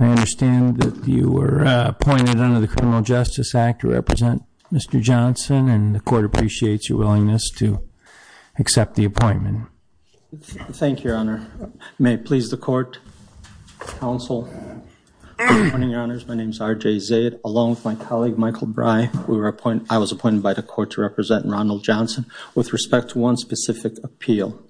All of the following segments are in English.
I understand that you were appointed under the Criminal Justice Act to represent Mr. Johnson and the court appreciates your willingness to accept the appointment. Thank you, Your Honor. May it please the court, counsel. Good morning, Your Honors. My name is R.J. Zaid along with my colleague, Michael Brey. I was appointed by the court to represent Ronald Johnson with respect to one specific appeal.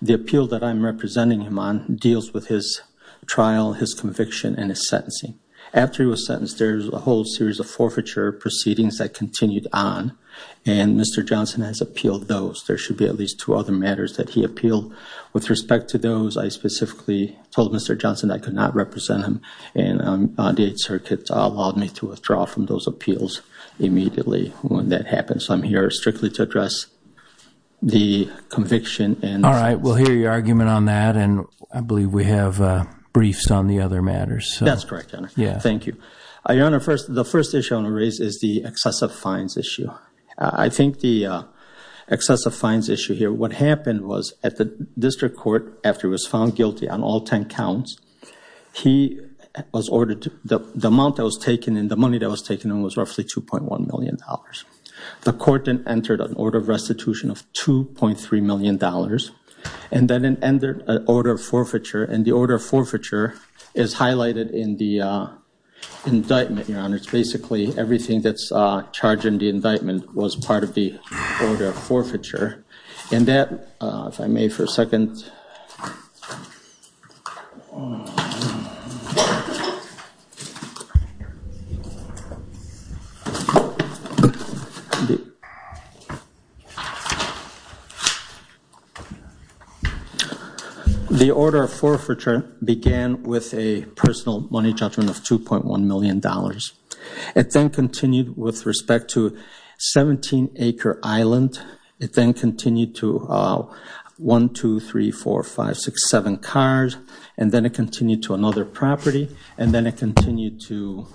The appeal that I'm representing him deals with his trial, his conviction, and his sentencing. After he was sentenced, there's a whole series of forfeiture proceedings that continued on and Mr. Johnson has appealed those. There should be at least two other matters that he appealed with respect to those. I specifically told Mr. Johnson I could not represent him and the Eighth Circuit allowed me to withdraw from those appeals immediately when that happened. So I'm here strictly to address the conviction. All right, we'll hear your argument on that and I believe we have briefs on the other matters. That's correct, Your Honor. Thank you. Your Honor, the first issue I want to raise is the excessive fines issue. I think the excessive fines issue here, what happened was at the district court after he was found guilty on all 10 counts, the amount that was taken and was roughly $2.1 million. The court then entered an order of restitution of $2.3 million and then it entered an order of forfeiture and the order of forfeiture is highlighted in the indictment, Your Honor. It's basically everything that's charged in the indictment was part of the forfeiture and that, if I may for a second, the order of forfeiture began with a personal money judgment of $2.1 million. It then continued with respect to a 17-acre island. It then continued to 1, 2, 3, 4, 5, 6, 7 cars and then it continued to another property and then it continued to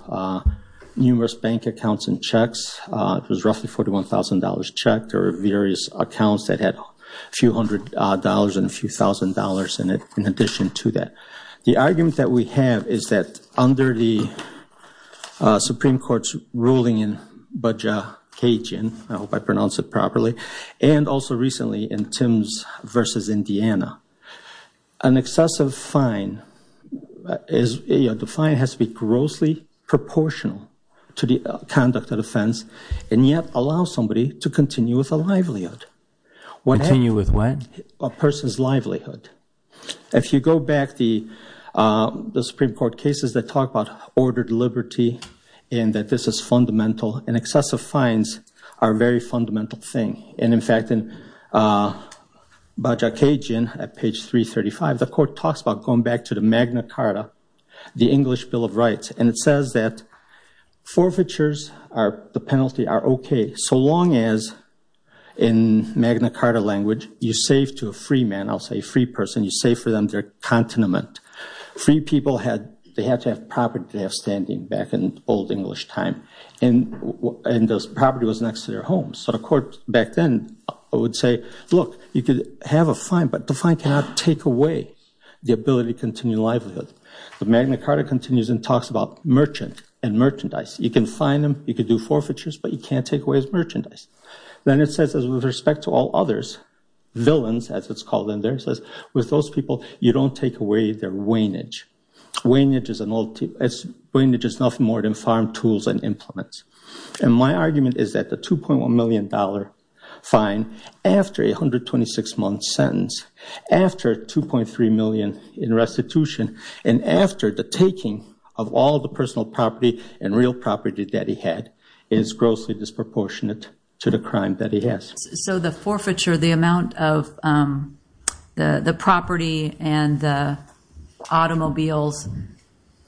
numerous bank accounts and checks. It was roughly $41,000 checked or various accounts that had a few hundred dollars and a few thousand dollars in it in addition to that. The argument that we have is that under the Supreme Court's ruling in Baja Cajun, I hope I pronounced it properly, and also recently in Timbs v. Indiana, an excessive fine is, you know, the fine has to be grossly proportional to the conduct of offense and yet allow somebody to continue with a livelihood. Continue with what? A person's livelihood. If you go back to the Supreme Court cases that talk about ordered liberty and that this is fundamental and excessive fines are a very fundamental thing and, in fact, in Baja Cajun at page 335, the court talks about going back to the Magna Carta, the English Bill of Rights, and it says that forfeitures are the penalty are okay so long as in Magna Carta language you save to a free man, I'll say free person, you save for them their continent. Free people had, they had to have property they have standing back in old English time and and those property was next to their homes. So the court back then would say, look, you could have a fine but the fine cannot take away the ability to continue livelihood. The Magna Carta continues and talks about merchant and merchandise. You can fine them, you could do forfeitures, but you can't take away his merchandise. Then it says, with respect to all others, villains, as it's called in there, it says with those people you don't take away their wainage. Wainage is an old, wainage is nothing more than farm tools and implements and my argument is that the 2.1 million dollar fine after a 126 month sentence, after 2.3 million in restitution, and after the taking of all the personal property and real property that he had is grossly disproportionate to the crime that he has. So the forfeiture, the property and the automobiles,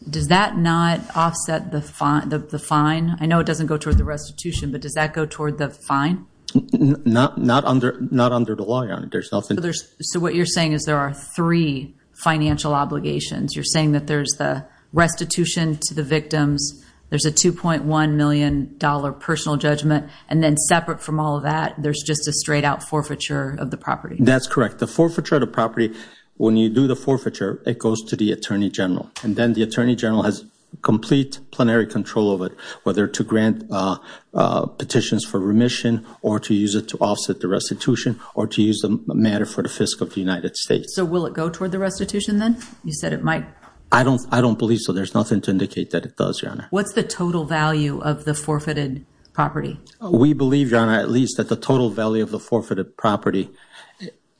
does that not offset the fine? I know it doesn't go toward the restitution, but does that go toward the fine? Not under the law, Your Honor. So what you're saying is there are three financial obligations. You're saying that there's the restitution to the victims, there's a 2.1 million dollar personal judgment, and then separate from all of that there's just a straight out forfeiture of the property. That's correct. The forfeiture of the property, when you do the forfeiture, it goes to the Attorney General and then the Attorney General has complete plenary control of it, whether to grant petitions for remission or to use it to offset the restitution or to use the matter for the Fisc of the United States. So will it go toward the restitution then? You said it might. I don't believe so. There's nothing to indicate that it does, Your Honor. What's the total value of the forfeited property? We believe, Your Honor, at least that the total value of the forfeited property,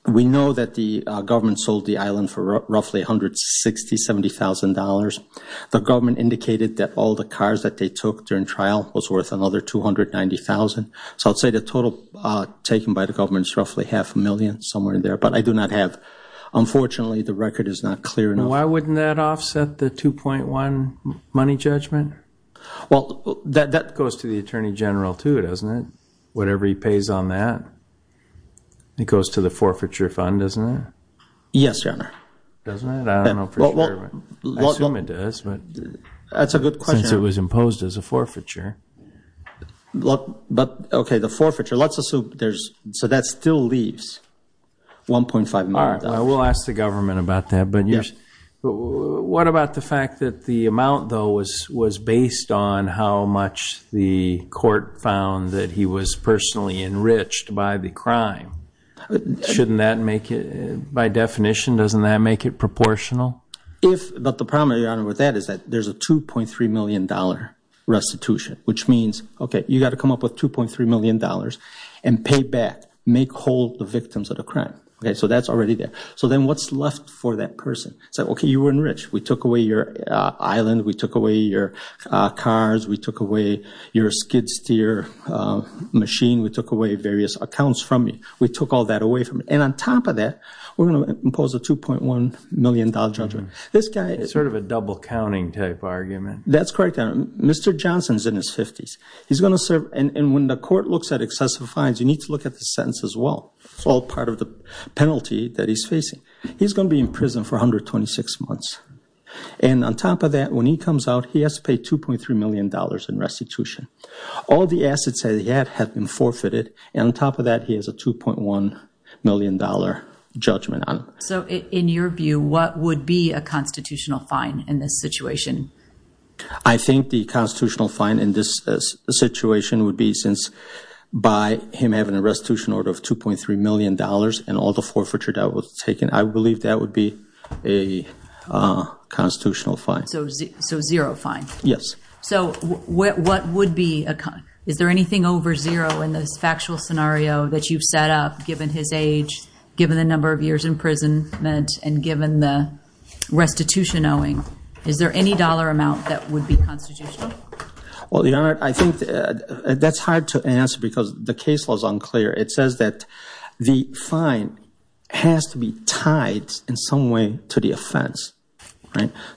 we know that the government sold the island for roughly $160,000, $70,000. The government indicated that all the cars that they took during trial was worth another $290,000. So I'd say the total taken by the government is roughly half a million, somewhere in there. But I do not have, unfortunately, the record is not clear enough. Why wouldn't that offset the 2.1 money judgment? Well, that goes to the Attorney General too, doesn't it? Whatever he pays on that. It goes to the forfeiture fund, doesn't it? Yes, Your Honor. Doesn't it? I don't know for sure. I assume it does. That's a good question. Since it was imposed as a forfeiture. But, okay, the forfeiture, let's assume there's, so that still leaves $1.5 million. We'll ask the government about that. But what about the fact that the amount, though, was based on how much the court found that he was personally enriched by the crime? Shouldn't that make it, by definition, doesn't that make it proportional? But the problem, Your Honor, with that is that there's a $2.3 million restitution, which means, okay, you got to come up with $2.3 million and pay back, make whole the victims of the crime. So that's already there. So then what's left for that person? It's like, okay, you were enriched. We took away your island. We took away your cars. We took away your skid steer machine. We took away various accounts from you. We took all that away from you. And on top of that, we're going to impose a $2.1 million judgment. This guy is sort of a double counting type argument. That's correct, Your Honor. Mr. Johnson's in his 50s. He's going to serve, and when the court looks at excessive fines, you need to look at the sentence as well. It's all part of the penalty that he's facing. He's going to be in prison for 126 months. And on top of that, when he comes out, he has to pay $2.3 million in restitution. All the assets that he had have been forfeited. And on top of that, he has a $2.1 million judgment on it. So in your view, what would be a constitutional fine in this situation? I think the constitutional fine in this situation would be since, by him having a restitution order of $2.3 million and all the forfeiture that was taken, I believe that would be a constitutional fine. So zero fine? Yes. So what would be a... Is there anything over zero in this factual scenario that you've set up, given his age, given the number of years in prison, and given the restitution owing? Is there any dollar amount that would be constitutional? Well, Your Honor, I think that's hard to answer because the case law is unclear. It says that the fine has to be tied in some way to the offense.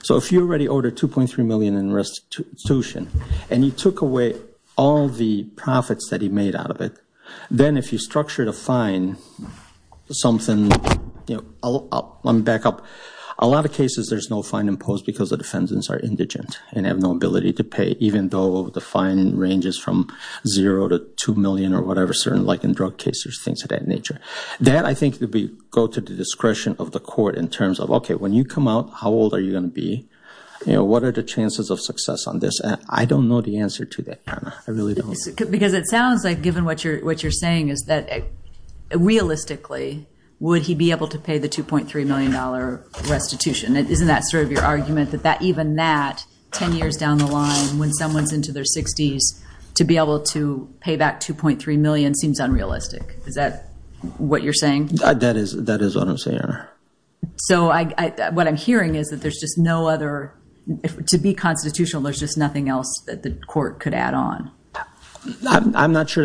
So if you already ordered $2.3 million in restitution, and you took away all the profits that he made out of it, then if you structured a fine, something... Let me back up. A lot of cases there's no fine imposed because the defendants are indigent and have no ability to pay, even though the fine ranges from zero to two million or whatever, like in drug cases, things of that nature. That, I think, would go to the discretion of the court in terms of, okay, when you come out, how old are you going to be? What are the chances of success on this? I don't know the answer to that, Your Honor. I really don't. Because it sounds like, given what you're saying, is that realistically, would he be able to pay the 10 years down the line, when someone's into their 60s, to be able to pay back $2.3 million seems unrealistic. Is that what you're saying? That is what I'm saying, Your Honor. So what I'm hearing is that there's just no other... To be constitutional, there's just nothing else that the court could add on. I'm not sure.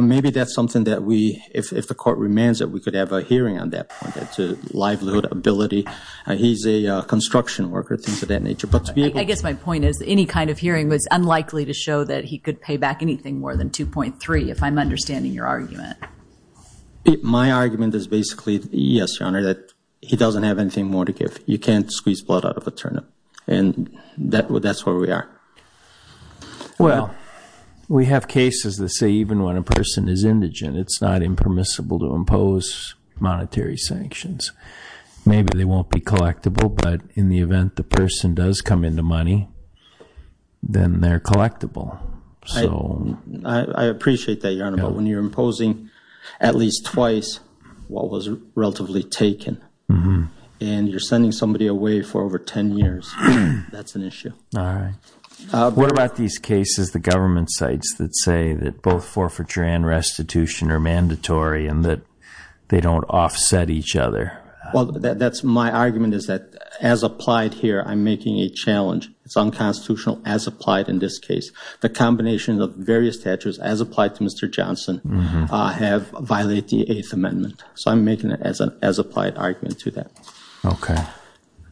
Maybe that's something that we, if the court remains, that we could have a hearing on that point, to livelihood ability. He's a construction worker, things of that nature. I guess my point is, any kind of hearing was unlikely to show that he could pay back anything more than $2.3 million, if I'm understanding your argument. My argument is basically, yes, Your Honor, that he doesn't have anything more to give. You can't squeeze blood out of a turnip. And that's where we are. Well, we have cases that say even when a person is indigent, it's not impermissible to impose monetary sanctions. Maybe they won't be the person does come into money, then they're collectible. I appreciate that, Your Honor. But when you're imposing at least twice what was relatively taken and you're sending somebody away for over 10 years, that's an issue. What about these cases, the government sites that say that both forfeiture and restitution are mandatory and that they don't offset each other? Well, that's my argument is that as applied here, I'm making a challenge. It's unconstitutional as applied in this case. The combination of various statutes as applied to Mr. Johnson have violated the Eighth Amendment. So I'm making it as an as applied argument to that.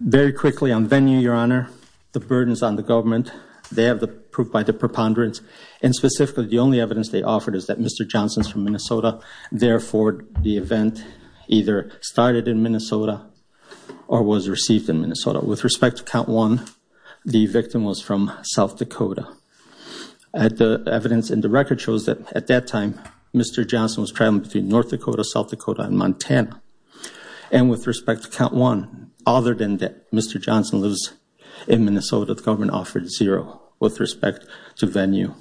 Very quickly on venue, Your Honor, the burdens on the government, they have the proof by the preponderance. And specifically, the only evidence they offered is that Mr. Johnson's from Minnesota. Therefore, the event either started in Minnesota or was received in Minnesota. With respect to Count 1, the victim was from South Dakota. The evidence in the record shows that at that time, Mr. Johnson was traveling between North Dakota, South Dakota, and Montana. And with respect to Count 1, other than that Mr. Johnson lives in Minnesota, the government offered zero with respect to venue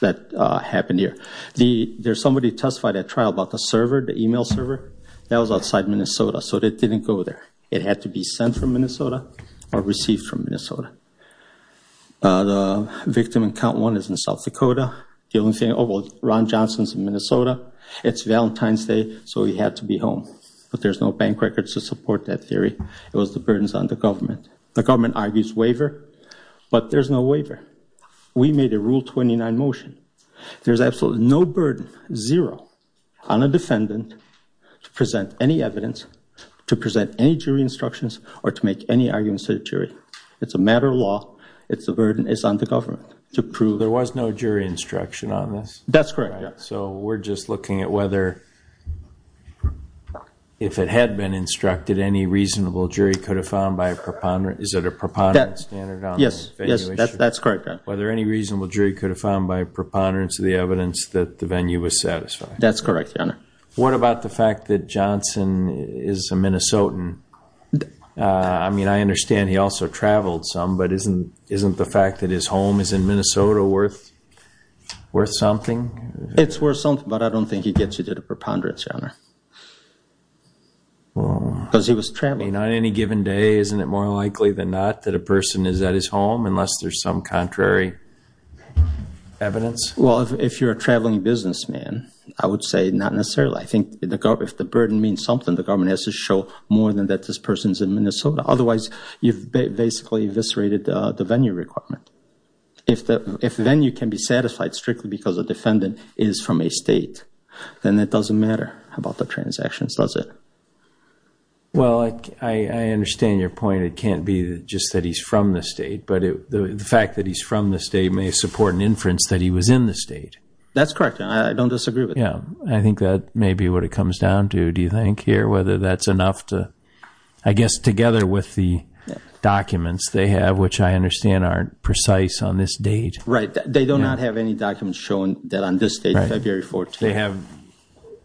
that happened here. There's somebody testified at trial about the server, the email server. That was outside Minnesota, so it didn't go there. It had to be sent from Minnesota or received from Minnesota. The victim in Count 1 is in South Dakota. The only thing, oh, well, Ron Johnson's in Minnesota. It's Valentine's Day, so he had to be home. But there's no bank records to support that theory. It was the burdens on the government. The government argues waiver, but there's no waiver. We made a Rule 29 motion. There's absolutely no burden, zero, on a defendant to present any evidence, to present any jury instructions, or to make any arguments to the jury. It's a matter of law. It's a burden. It's on the government to prove. There was no jury instruction on this? That's correct. So we're just looking at whether, if it had been instructed, any reasonable jury could have found by a preponderance, is it a preponderance standard on the venue issue? Yes, that's correct, Your Honor. Whether any reasonable jury could have found by a preponderance of the evidence that the venue was satisfied? That's correct, Your Honor. What about the fact that Johnson is a Minnesotan? I mean, I understand he also traveled some, but isn't the fact that his home is in Minnesota worth something? It's worth something, but I don't think he gets you to the preponderance, Your Honor. Because he was traveling. On any given day, isn't it more likely than not that a person is at his home, unless there's some contrary evidence? Well, if you're a traveling businessman, I would say not necessarily. I think if the burden means something, the government has to show more than that this person's in Minnesota. Otherwise, you've basically eviscerated the venue requirement. If the venue can be satisfied strictly because a defendant is from a state, then it doesn't matter about the transactions, does it? Well, I understand your point. It can't be just that he's from the state, but the fact that he's from the state may support an inference that he was in the state. That's correct, Your Honor. I don't disagree with that. Yeah, I think that may be what it comes down to, do you think, here? Whether that's enough to, I guess, together with the documents they have, which I understand aren't precise on this date. Right. They do not have any documents showing that on this date, February 14th. They have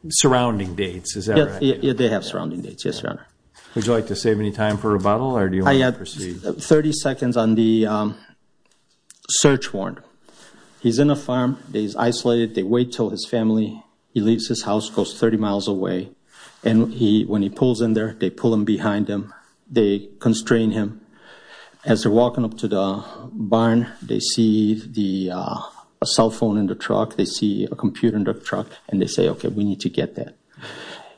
surrounding dates, is that right? They have surrounding dates, yes, Your Honor. Would you like to save any time for rebuttal, or do you want to proceed? I have 30 seconds on the search warrant. He's in a farm. He's isolated. They wait till his family, he leaves his house, goes 30 miles away. When he pulls in there, they pull him behind them. They constrain him. As they're walking up to the barn, they see the cell phone in the truck. They see a computer in the truck, and they say, okay, we need to get that.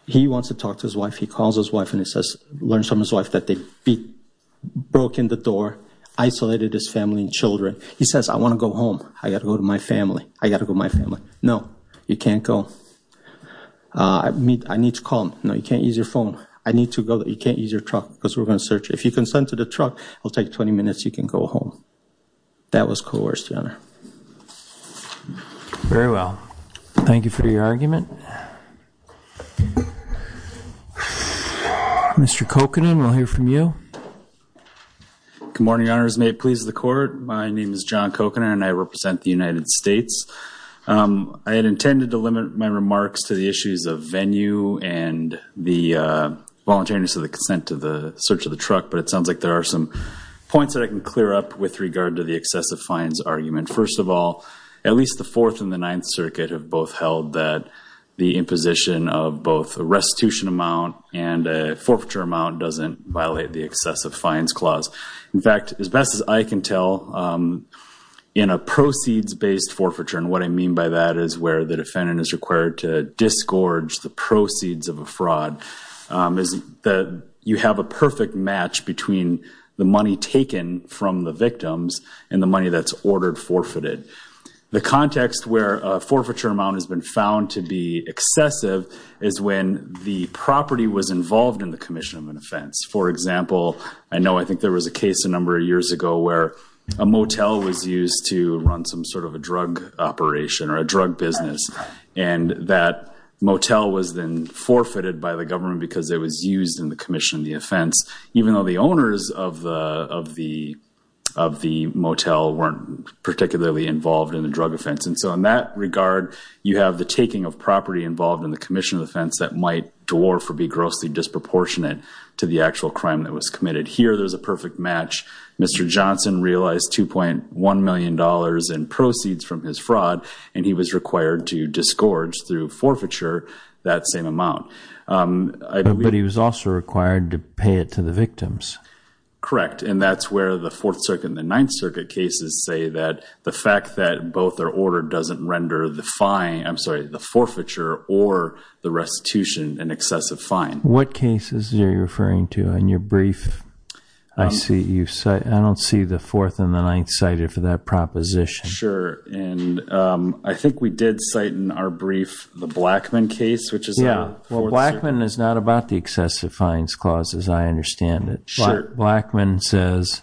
He wants to talk to his wife. He calls his wife, and he says, learns from his wife that they broke in the door, isolated his family and children. He says, I want to go home. I got to go to my family. I got to go to my family. No, you can't go. I need to call him. No, you can't use your phone. I need to go. You can't use your truck, because we're going to search. If you consent to the truck, it'll take 20 minutes. You can go home. That was coerced, Your Honor. Very well. Thank you for your argument. Mr. Kokanen, we'll hear from you. Good morning, Your Honors. May it please the Court. My name is John Kokanen, and I represent the United States. I had intended to limit my remarks to the issues of venue and the voluntariness of the consent to the search of the truck, but it sounds like there are some points that I can clear up with regard to the excessive fines argument. First of all, at least the Fourth and the Ninth Circuit have both held that the imposition of both a restitution amount and a forfeiture amount doesn't violate the excessive fines clause. In fact, as best as I can tell, in a proceeds-based forfeiture, and what I mean by that is where the defendant is required to disgorge the proceeds of a fraud, you have a perfect match between the money taken from the victims and the money that's ordered forfeited. The context where a forfeiture amount has been found to be excessive is when the property was involved in the commission of an offense. For example, a motel was used to run some sort of a drug operation or a drug business, and that motel was then forfeited by the government because it was used in the commission of the offense, even though the owners of the motel weren't particularly involved in the drug offense. And so in that regard, you have the taking of property involved in the commission of the offense that might dwarf or be grossly disproportionate to the actual crime that was committed. Here, there's a perfect match. Mr. Johnson realized $2.1 million in proceeds from his fraud, and he was required to disgorge through forfeiture that same amount. But he was also required to pay it to the victims. Correct. And that's where the Fourth Circuit and the Ninth Circuit cases say that the fact that both are ordered doesn't render the fine, I'm sorry, the forfeiture or the restitution an brief. I don't see the Fourth and the Ninth cited for that proposition. Sure. And I think we did cite in our brief the Blackman case, which is... Yeah, well, Blackman is not about the excessive fines clauses. I understand it. Blackman says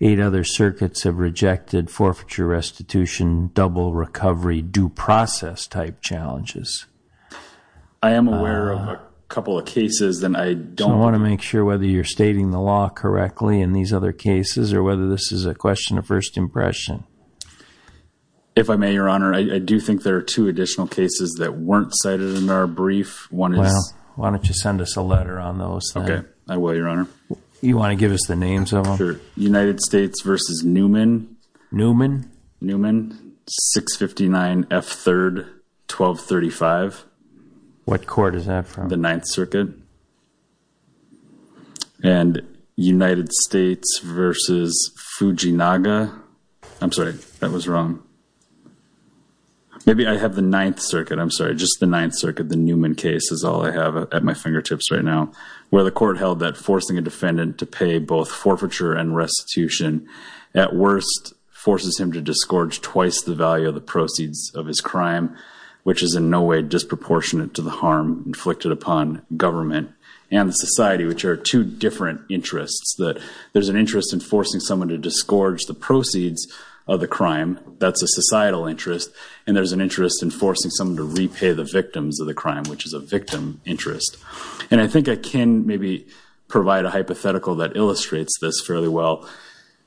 eight other circuits have rejected forfeiture, restitution, double recovery, due process type challenges. I am aware of a couple of cases that I don't... I want to make sure whether you're stating the law correctly in these other cases or whether this is a question of first impression. If I may, Your Honor, I do think there are two additional cases that weren't cited in our brief. One is... Well, why don't you send us a letter on those then? Okay, I will, Your Honor. You want to give us the names of them? Sure. United States versus Newman. Newman. Newman, 659 F3rd 1235. What court is that from? The Ninth Circuit. And United States versus Fujinaga. I'm sorry, that was wrong. Maybe I have the Ninth Circuit. I'm sorry, just the Ninth Circuit. The Newman case is all I have at my fingertips right now, where the court held that forcing a defendant to pay both forfeiture and restitution at worst forces him to disgorge twice the value of the proceeds of his crime, which is in no way disproportionate to the harm inflicted upon government and society, which are two different interests. That there's an interest in forcing someone to disgorge the proceeds of the crime. That's a societal interest. And there's an interest in forcing someone to provide a hypothetical that illustrates this fairly well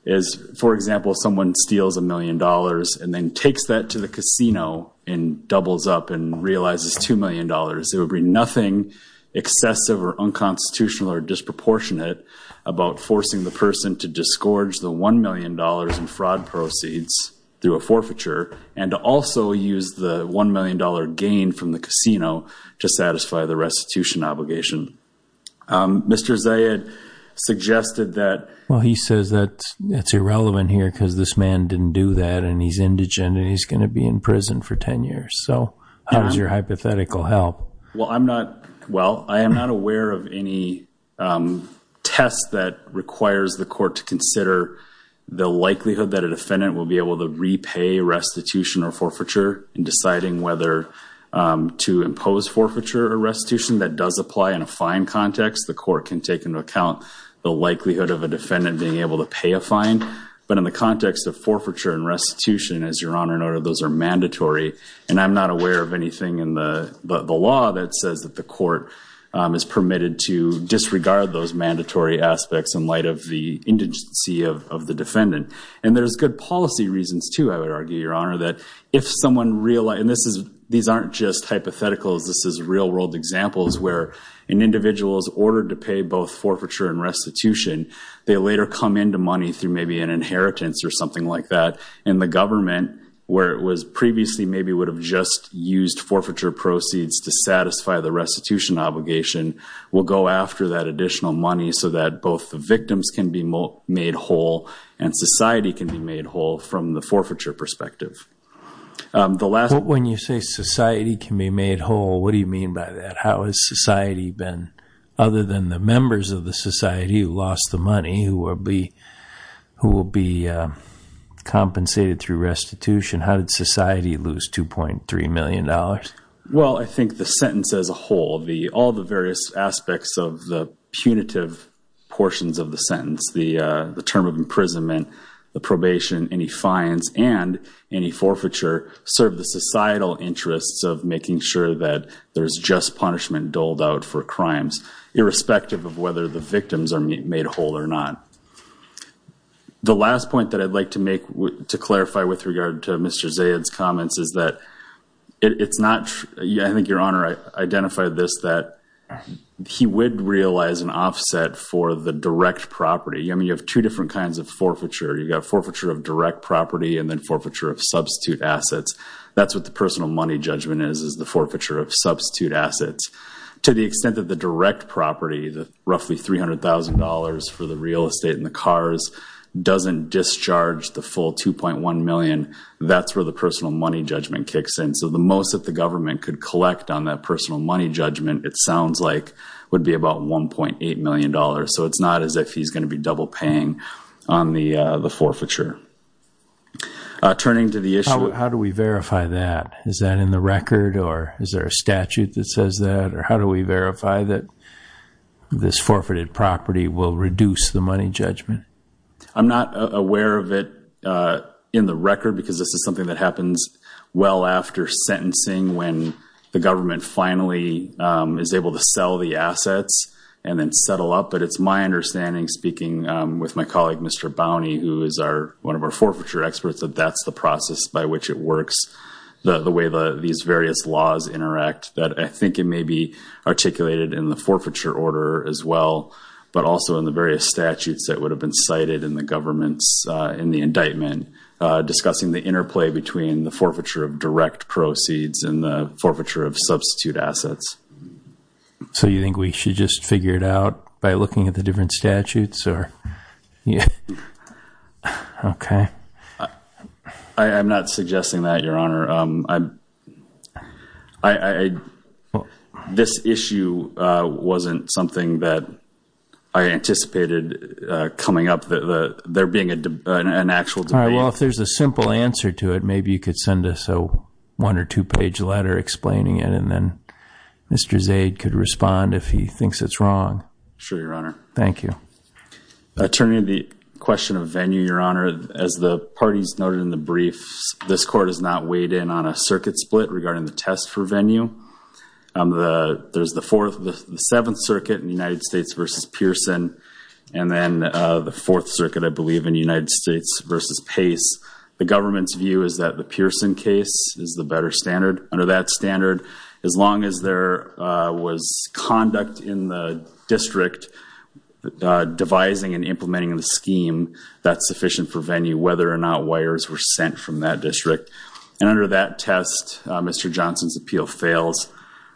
is, for example, someone steals a million dollars and then takes that to the casino and doubles up and realizes $2 million. It would be nothing excessive or unconstitutional or disproportionate about forcing the person to disgorge the $1 million in fraud proceeds through a forfeiture and to also use the $1 million gain from the casino to satisfy the restitution obligation. Mr. Zayed suggested that... Well, he says that it's irrelevant here because this man didn't do that and he's indigent and he's going to be in prison for 10 years. So how does your hypothetical help? Well, I'm not... Well, I am not aware of any test that requires the court to consider the likelihood that a defendant will be able to repay restitution or forfeiture in deciding whether to impose forfeiture or restitution. That does apply in a fine context. The court can take into account the likelihood of a defendant being able to pay a fine. But in the context of forfeiture and restitution, as Your Honor noted, those are mandatory. And I'm not aware of anything in the law that says that the court is permitted to disregard those mandatory aspects in light of the indigency of the defendant. And there's good policy reasons too, I would argue, Your Honor, that if someone realized... And these aren't just hypotheticals, this is real world examples where an individual is ordered to pay both forfeiture and restitution. They later come into money through maybe an inheritance or something like that. And the government, where it was previously maybe would have just used forfeiture proceeds to satisfy the restitution obligation, will go after that additional money so that both the victims can be made whole and society can be made whole from the forfeiture perspective. The last... When you say society can be made whole, what do you mean by that? How has society been, other than the members of the society who lost the money, who will be compensated through restitution, how did society lose 2.3 million dollars? Well, I think the sentence as a whole, all the various aspects of the punitive portions of the fines and any forfeiture serve the societal interests of making sure that there's just punishment doled out for crimes, irrespective of whether the victims are made whole or not. The last point that I'd like to make to clarify with regard to Mr. Zayed's comments is that it's not... I think Your Honor identified this, that he would realize an offset for the direct property. I mean, you have two different kinds of forfeiture. You've got forfeiture of direct property and then forfeiture of substitute assets. That's what the personal money judgment is, is the forfeiture of substitute assets. To the extent that the direct property, the roughly $300,000 for the real estate and the cars, doesn't discharge the full 2.1 million, that's where the personal money judgment kicks in. So the most that the government could collect on that personal money judgment, it sounds like, would be about $1.8 million. So it's not as if he's going to be double paying on the forfeiture. Turning to the issue... How do we verify that? Is that in the record or is there a statute that says that? Or how do we verify that this forfeited property will reduce the money judgment? I'm not aware of it in the record because this is something that happens well after sentencing, when the government finally is able to sell the assets and then settle up. But it's my understanding, speaking with my colleague Mr. Bownie, who is one of our forfeiture experts, that that's the process by which it works. The way these various laws interact. I think it may be articulated in the forfeiture order as well, but also in the various statutes that would have been direct proceeds and the forfeiture of substitute assets. So you think we should just figure it out by looking at the different statutes? Yeah. Okay. I'm not suggesting that, Your Honor. This issue wasn't something that I anticipated coming up, there being an actual debate. Well, if there's a simple answer to it, maybe you could send us a one or two-page letter explaining it and then Mr. Zaid could respond if he thinks it's wrong. Sure, Your Honor. Thank you. Turning to the question of venue, Your Honor, as the parties noted in the brief, this court has not weighed in on a circuit split regarding the test for venue. There's the Seventh Circuit in the United States v. Pearson and then the Fourth Circuit, I believe, in the United States v. Pace. The government's view is that the Pearson case is the better standard. Under that standard, as long as there was conduct in the district devising and implementing the scheme, that's sufficient for venue, whether or not wires were sent from that district. And under that test, Mr. Johnson's appeal fails.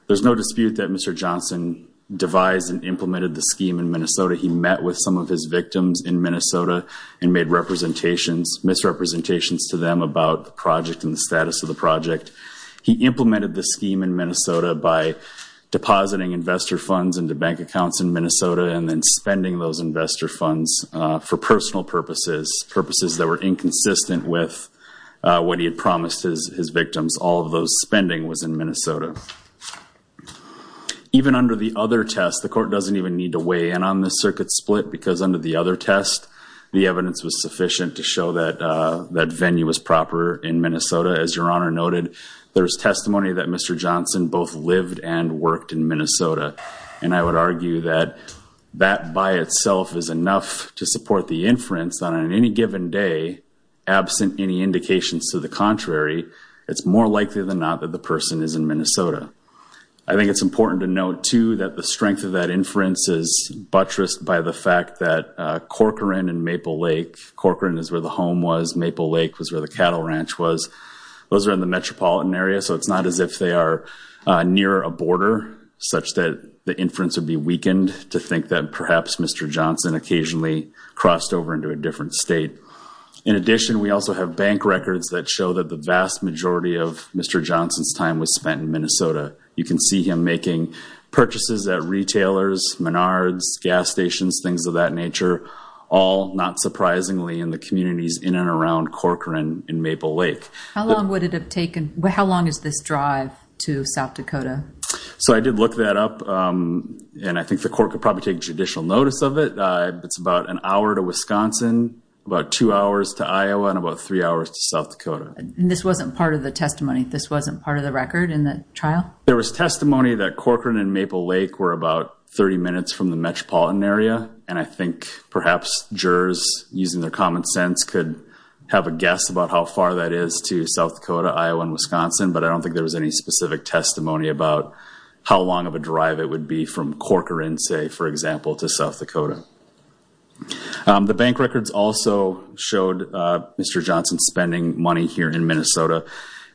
There's no dispute that Mr. Johnson devised and implemented the scheme in Minnesota. He met with some of his victims in Minnesota and made misrepresentations to them about the project and the status of the project. He implemented the scheme in Minnesota by depositing investor funds into bank accounts in Minnesota and then spending those investor funds for personal purposes, purposes that were inconsistent with what he had promised his victims. All of those spending was in Minnesota. Even under the other test, the court doesn't even need to weigh in on this circuit split because under the other test, the evidence was sufficient to show that that venue was proper in Minnesota. As Your Honor noted, there's testimony that Mr. Johnson both lived and worked in Minnesota. And I would argue that that by itself is enough to support the inference that on any given day, absent any indications to the contrary, it's more likely than not that the person is in Minnesota. I think it's important to note, too, that the strength of that inference is reinforced by the fact that Corcoran and Maple Lake, Corcoran is where the home was, Maple Lake was where the cattle ranch was, those are in the metropolitan area. So it's not as if they are near a border such that the inference would be weakened to think that perhaps Mr. Johnson occasionally crossed over into a different state. In addition, we also have bank records that show that the vast majority of Mr. Johnson's time was spent in Minnesota. You can see him making purchases at retailers, Menards, gas stations, things of that nature, all not surprisingly in the communities in and around Corcoran and Maple Lake. How long would it have taken? How long is this drive to South Dakota? So I did look that up and I think the court could probably take judicial notice of it. It's about an hour to Wisconsin, about two hours to Iowa, and about three hours to South Dakota. And this wasn't part of the testimony? This wasn't part of the record in the trial? There was about 30 minutes from the metropolitan area and I think perhaps jurors, using their common sense, could have a guess about how far that is to South Dakota, Iowa, and Wisconsin, but I don't think there was any specific testimony about how long of a drive it would be from Corcoran, say for example, to South Dakota. The bank records also showed Mr. Johnson spending money here in Minnesota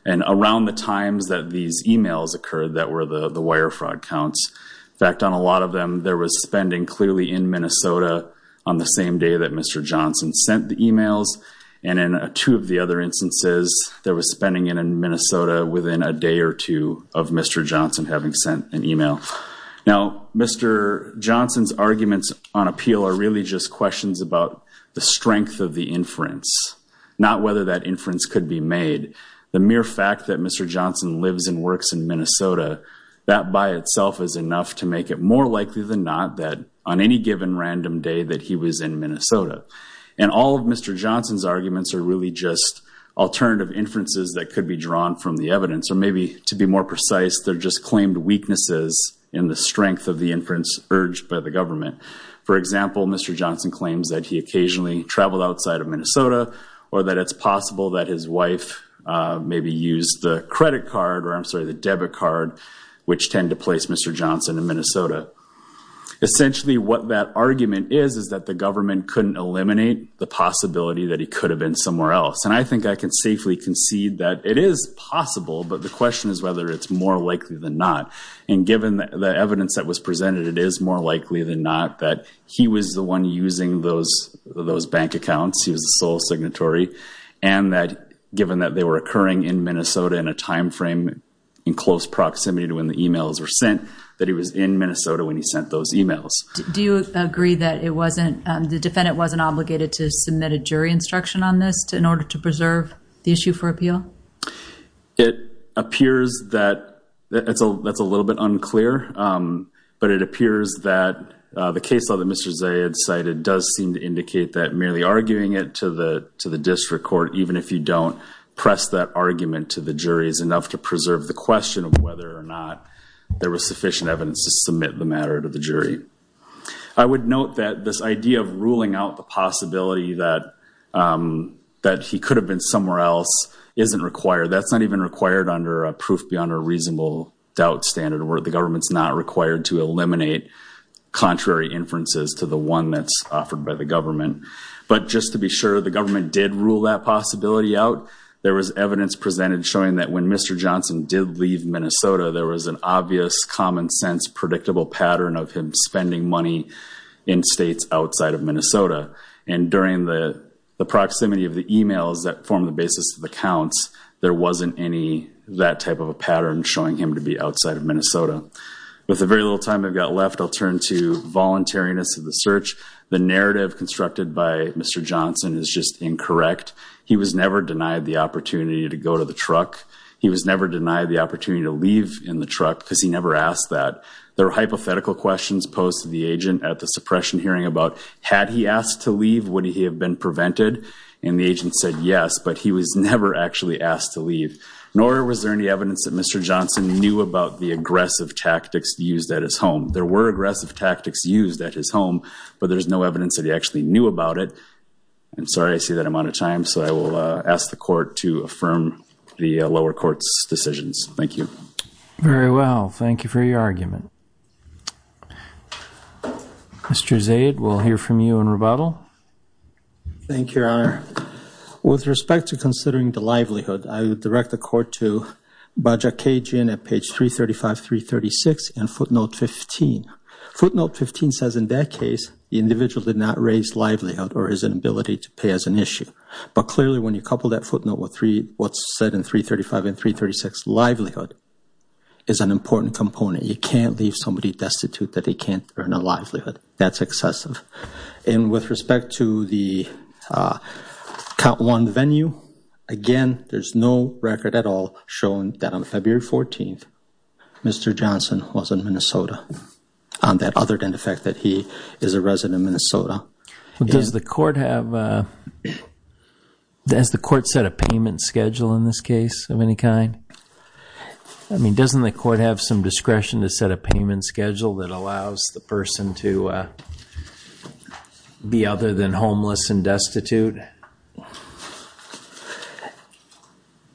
and around the times that these emails occurred that were the wire fraud counts. In fact, on a lot of them, there was spending clearly in Minnesota on the same day that Mr. Johnson sent the emails and in two of the other instances, there was spending in Minnesota within a day or two of Mr. Johnson having sent an email. Now, Mr. Johnson's arguments on appeal are really just the mere fact that Mr. Johnson lives and works in Minnesota, that by itself is enough to make it more likely than not that on any given random day that he was in Minnesota. And all of Mr. Johnson's arguments are really just alternative inferences that could be drawn from the evidence, or maybe to be more precise, they're just claimed weaknesses in the strength of the inference urged by the government. For example, Mr. Johnson claims that he occasionally traveled outside of Minnesota or that it's possible that his wife maybe used the credit card, or I'm sorry, the debit card, which tend to place Mr. Johnson in Minnesota. Essentially, what that argument is, is that the government couldn't eliminate the possibility that he could have been somewhere else. And I think I can safely concede that it is possible, but the question is whether it's more likely than not. And given the evidence that was presented, it is more likely than not that he was the one using those bank accounts. He was the sole signatory. And that given that they were occurring in Minnesota in a timeframe, in close proximity to when the emails were sent, that he was in Minnesota when he sent those emails. Do you agree that it wasn't, the defendant wasn't obligated to submit a jury instruction on this in order to preserve the issue for appeal? It appears that, that's a little bit unclear, but it appears that the case law that Mr. Zayed cited does seem to indicate that merely arguing it to the district court, even if you don't press that argument to the jury, is enough to preserve the question of whether or not there was sufficient evidence to submit the matter to the jury. I would note that this idea of ruling out the possibility that he could have been somewhere else isn't required. That's not even required under a proof beyond a reasonable doubt standard where the government's not required to eliminate contrary inferences to the one that's offered by the government. But just to be sure, the government did rule that possibility out. There was evidence presented showing that when Mr. Johnson did leave Minnesota, there was an obvious, common sense, predictable pattern of him spending money in states outside of Minnesota. And during the proximity of the emails that formed the basis of the counts, there wasn't any that type of a pattern showing him to be outside of Minnesota. With the very little time I've got left, I'll turn to voluntariness of the search. The narrative constructed by Mr. Johnson is just incorrect. He was never denied the opportunity to go to the truck. He was never denied the opportunity to leave in the truck because he never asked that. There were hypothetical questions posed to the agent at the suppression hearing about, had he asked to leave, would he have been prevented? And the agent said yes, but he was never actually asked to leave. Nor was there any evidence that Mr. Johnson knew about the aggressive tactics used at his home. There were aggressive tactics used at his home, but there's no evidence that he actually knew about it. And sorry, I see that I'm out of time. So I will ask the court to affirm the lower court's decisions. Thank you. Very well. Thank you for your argument. Mr. Zaid, we'll hear from you in rebuttal. Thank you, Your Honor. With respect to considering the livelihood, I would direct the court to Bajaj Kejian at page 335, 336 and footnote 15. Footnote 15 says in that case, the individual did not raise livelihood or his inability to pay as an issue. But clearly when you couple that footnote with what's said in 335 and 336, livelihood is an important component. You can't leave somebody destitute that they can't earn a livelihood. That's excessive. And with respect to the count one venue, again, there's no record at all showing that on February 14th, Mr. Johnson was in Minnesota on that other than the fact that he is a resident of Minnesota. Does the court have, does the court set a payment schedule in this case of any kind? I mean, doesn't the court have some discretion to set a payment schedule that allows the person to be other than homeless and destitute?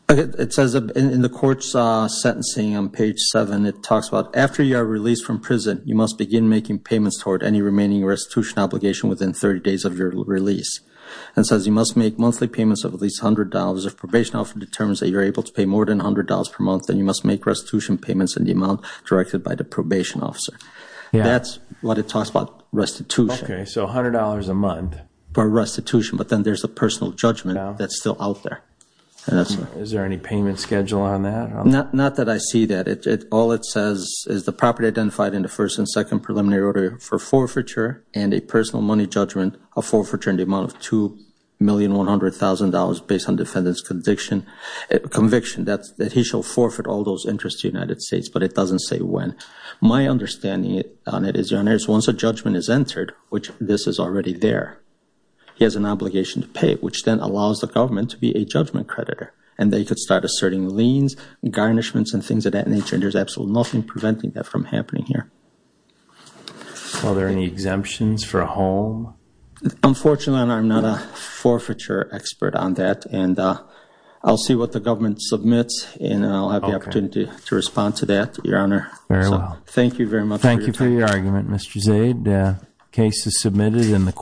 Okay. It says in the court's sentencing on page seven, it talks about after you are released from prison, you must begin making payments toward any remaining restitution obligation within 30 days of your release and says you must make monthly payments of at least $100. If probation officer determines that you're able to pay more than $100 per month, then you must make restitution payments in the amount directed by the probation officer. That's what it talks restitution. Okay. So $100 a month for restitution, but then there's a personal judgment that's still out there. Is there any payment schedule on that? Not that I see that. All it says is the property identified in the first and second preliminary order for forfeiture and a personal money judgment of forfeiture in the amount of $2,100,000 based on defendant's conviction that he shall forfeit all those interests to the United States, but it doesn't say when. My understanding on it is once a judgment is entered, which this is already there, he has an obligation to pay, which then allows the government to be a judgment creditor and they could start asserting liens and garnishments and things of that nature. And there's absolutely nothing preventing that from happening here. Are there any exemptions for a home? Unfortunately, I'm not a forfeiture expert on that and I'll see what the government submits and I'll have the opportunity to respond to that, Your Honor. Very well. Thank you very much. Thank you for your argument, Mr. Zaid. Case is submitted in the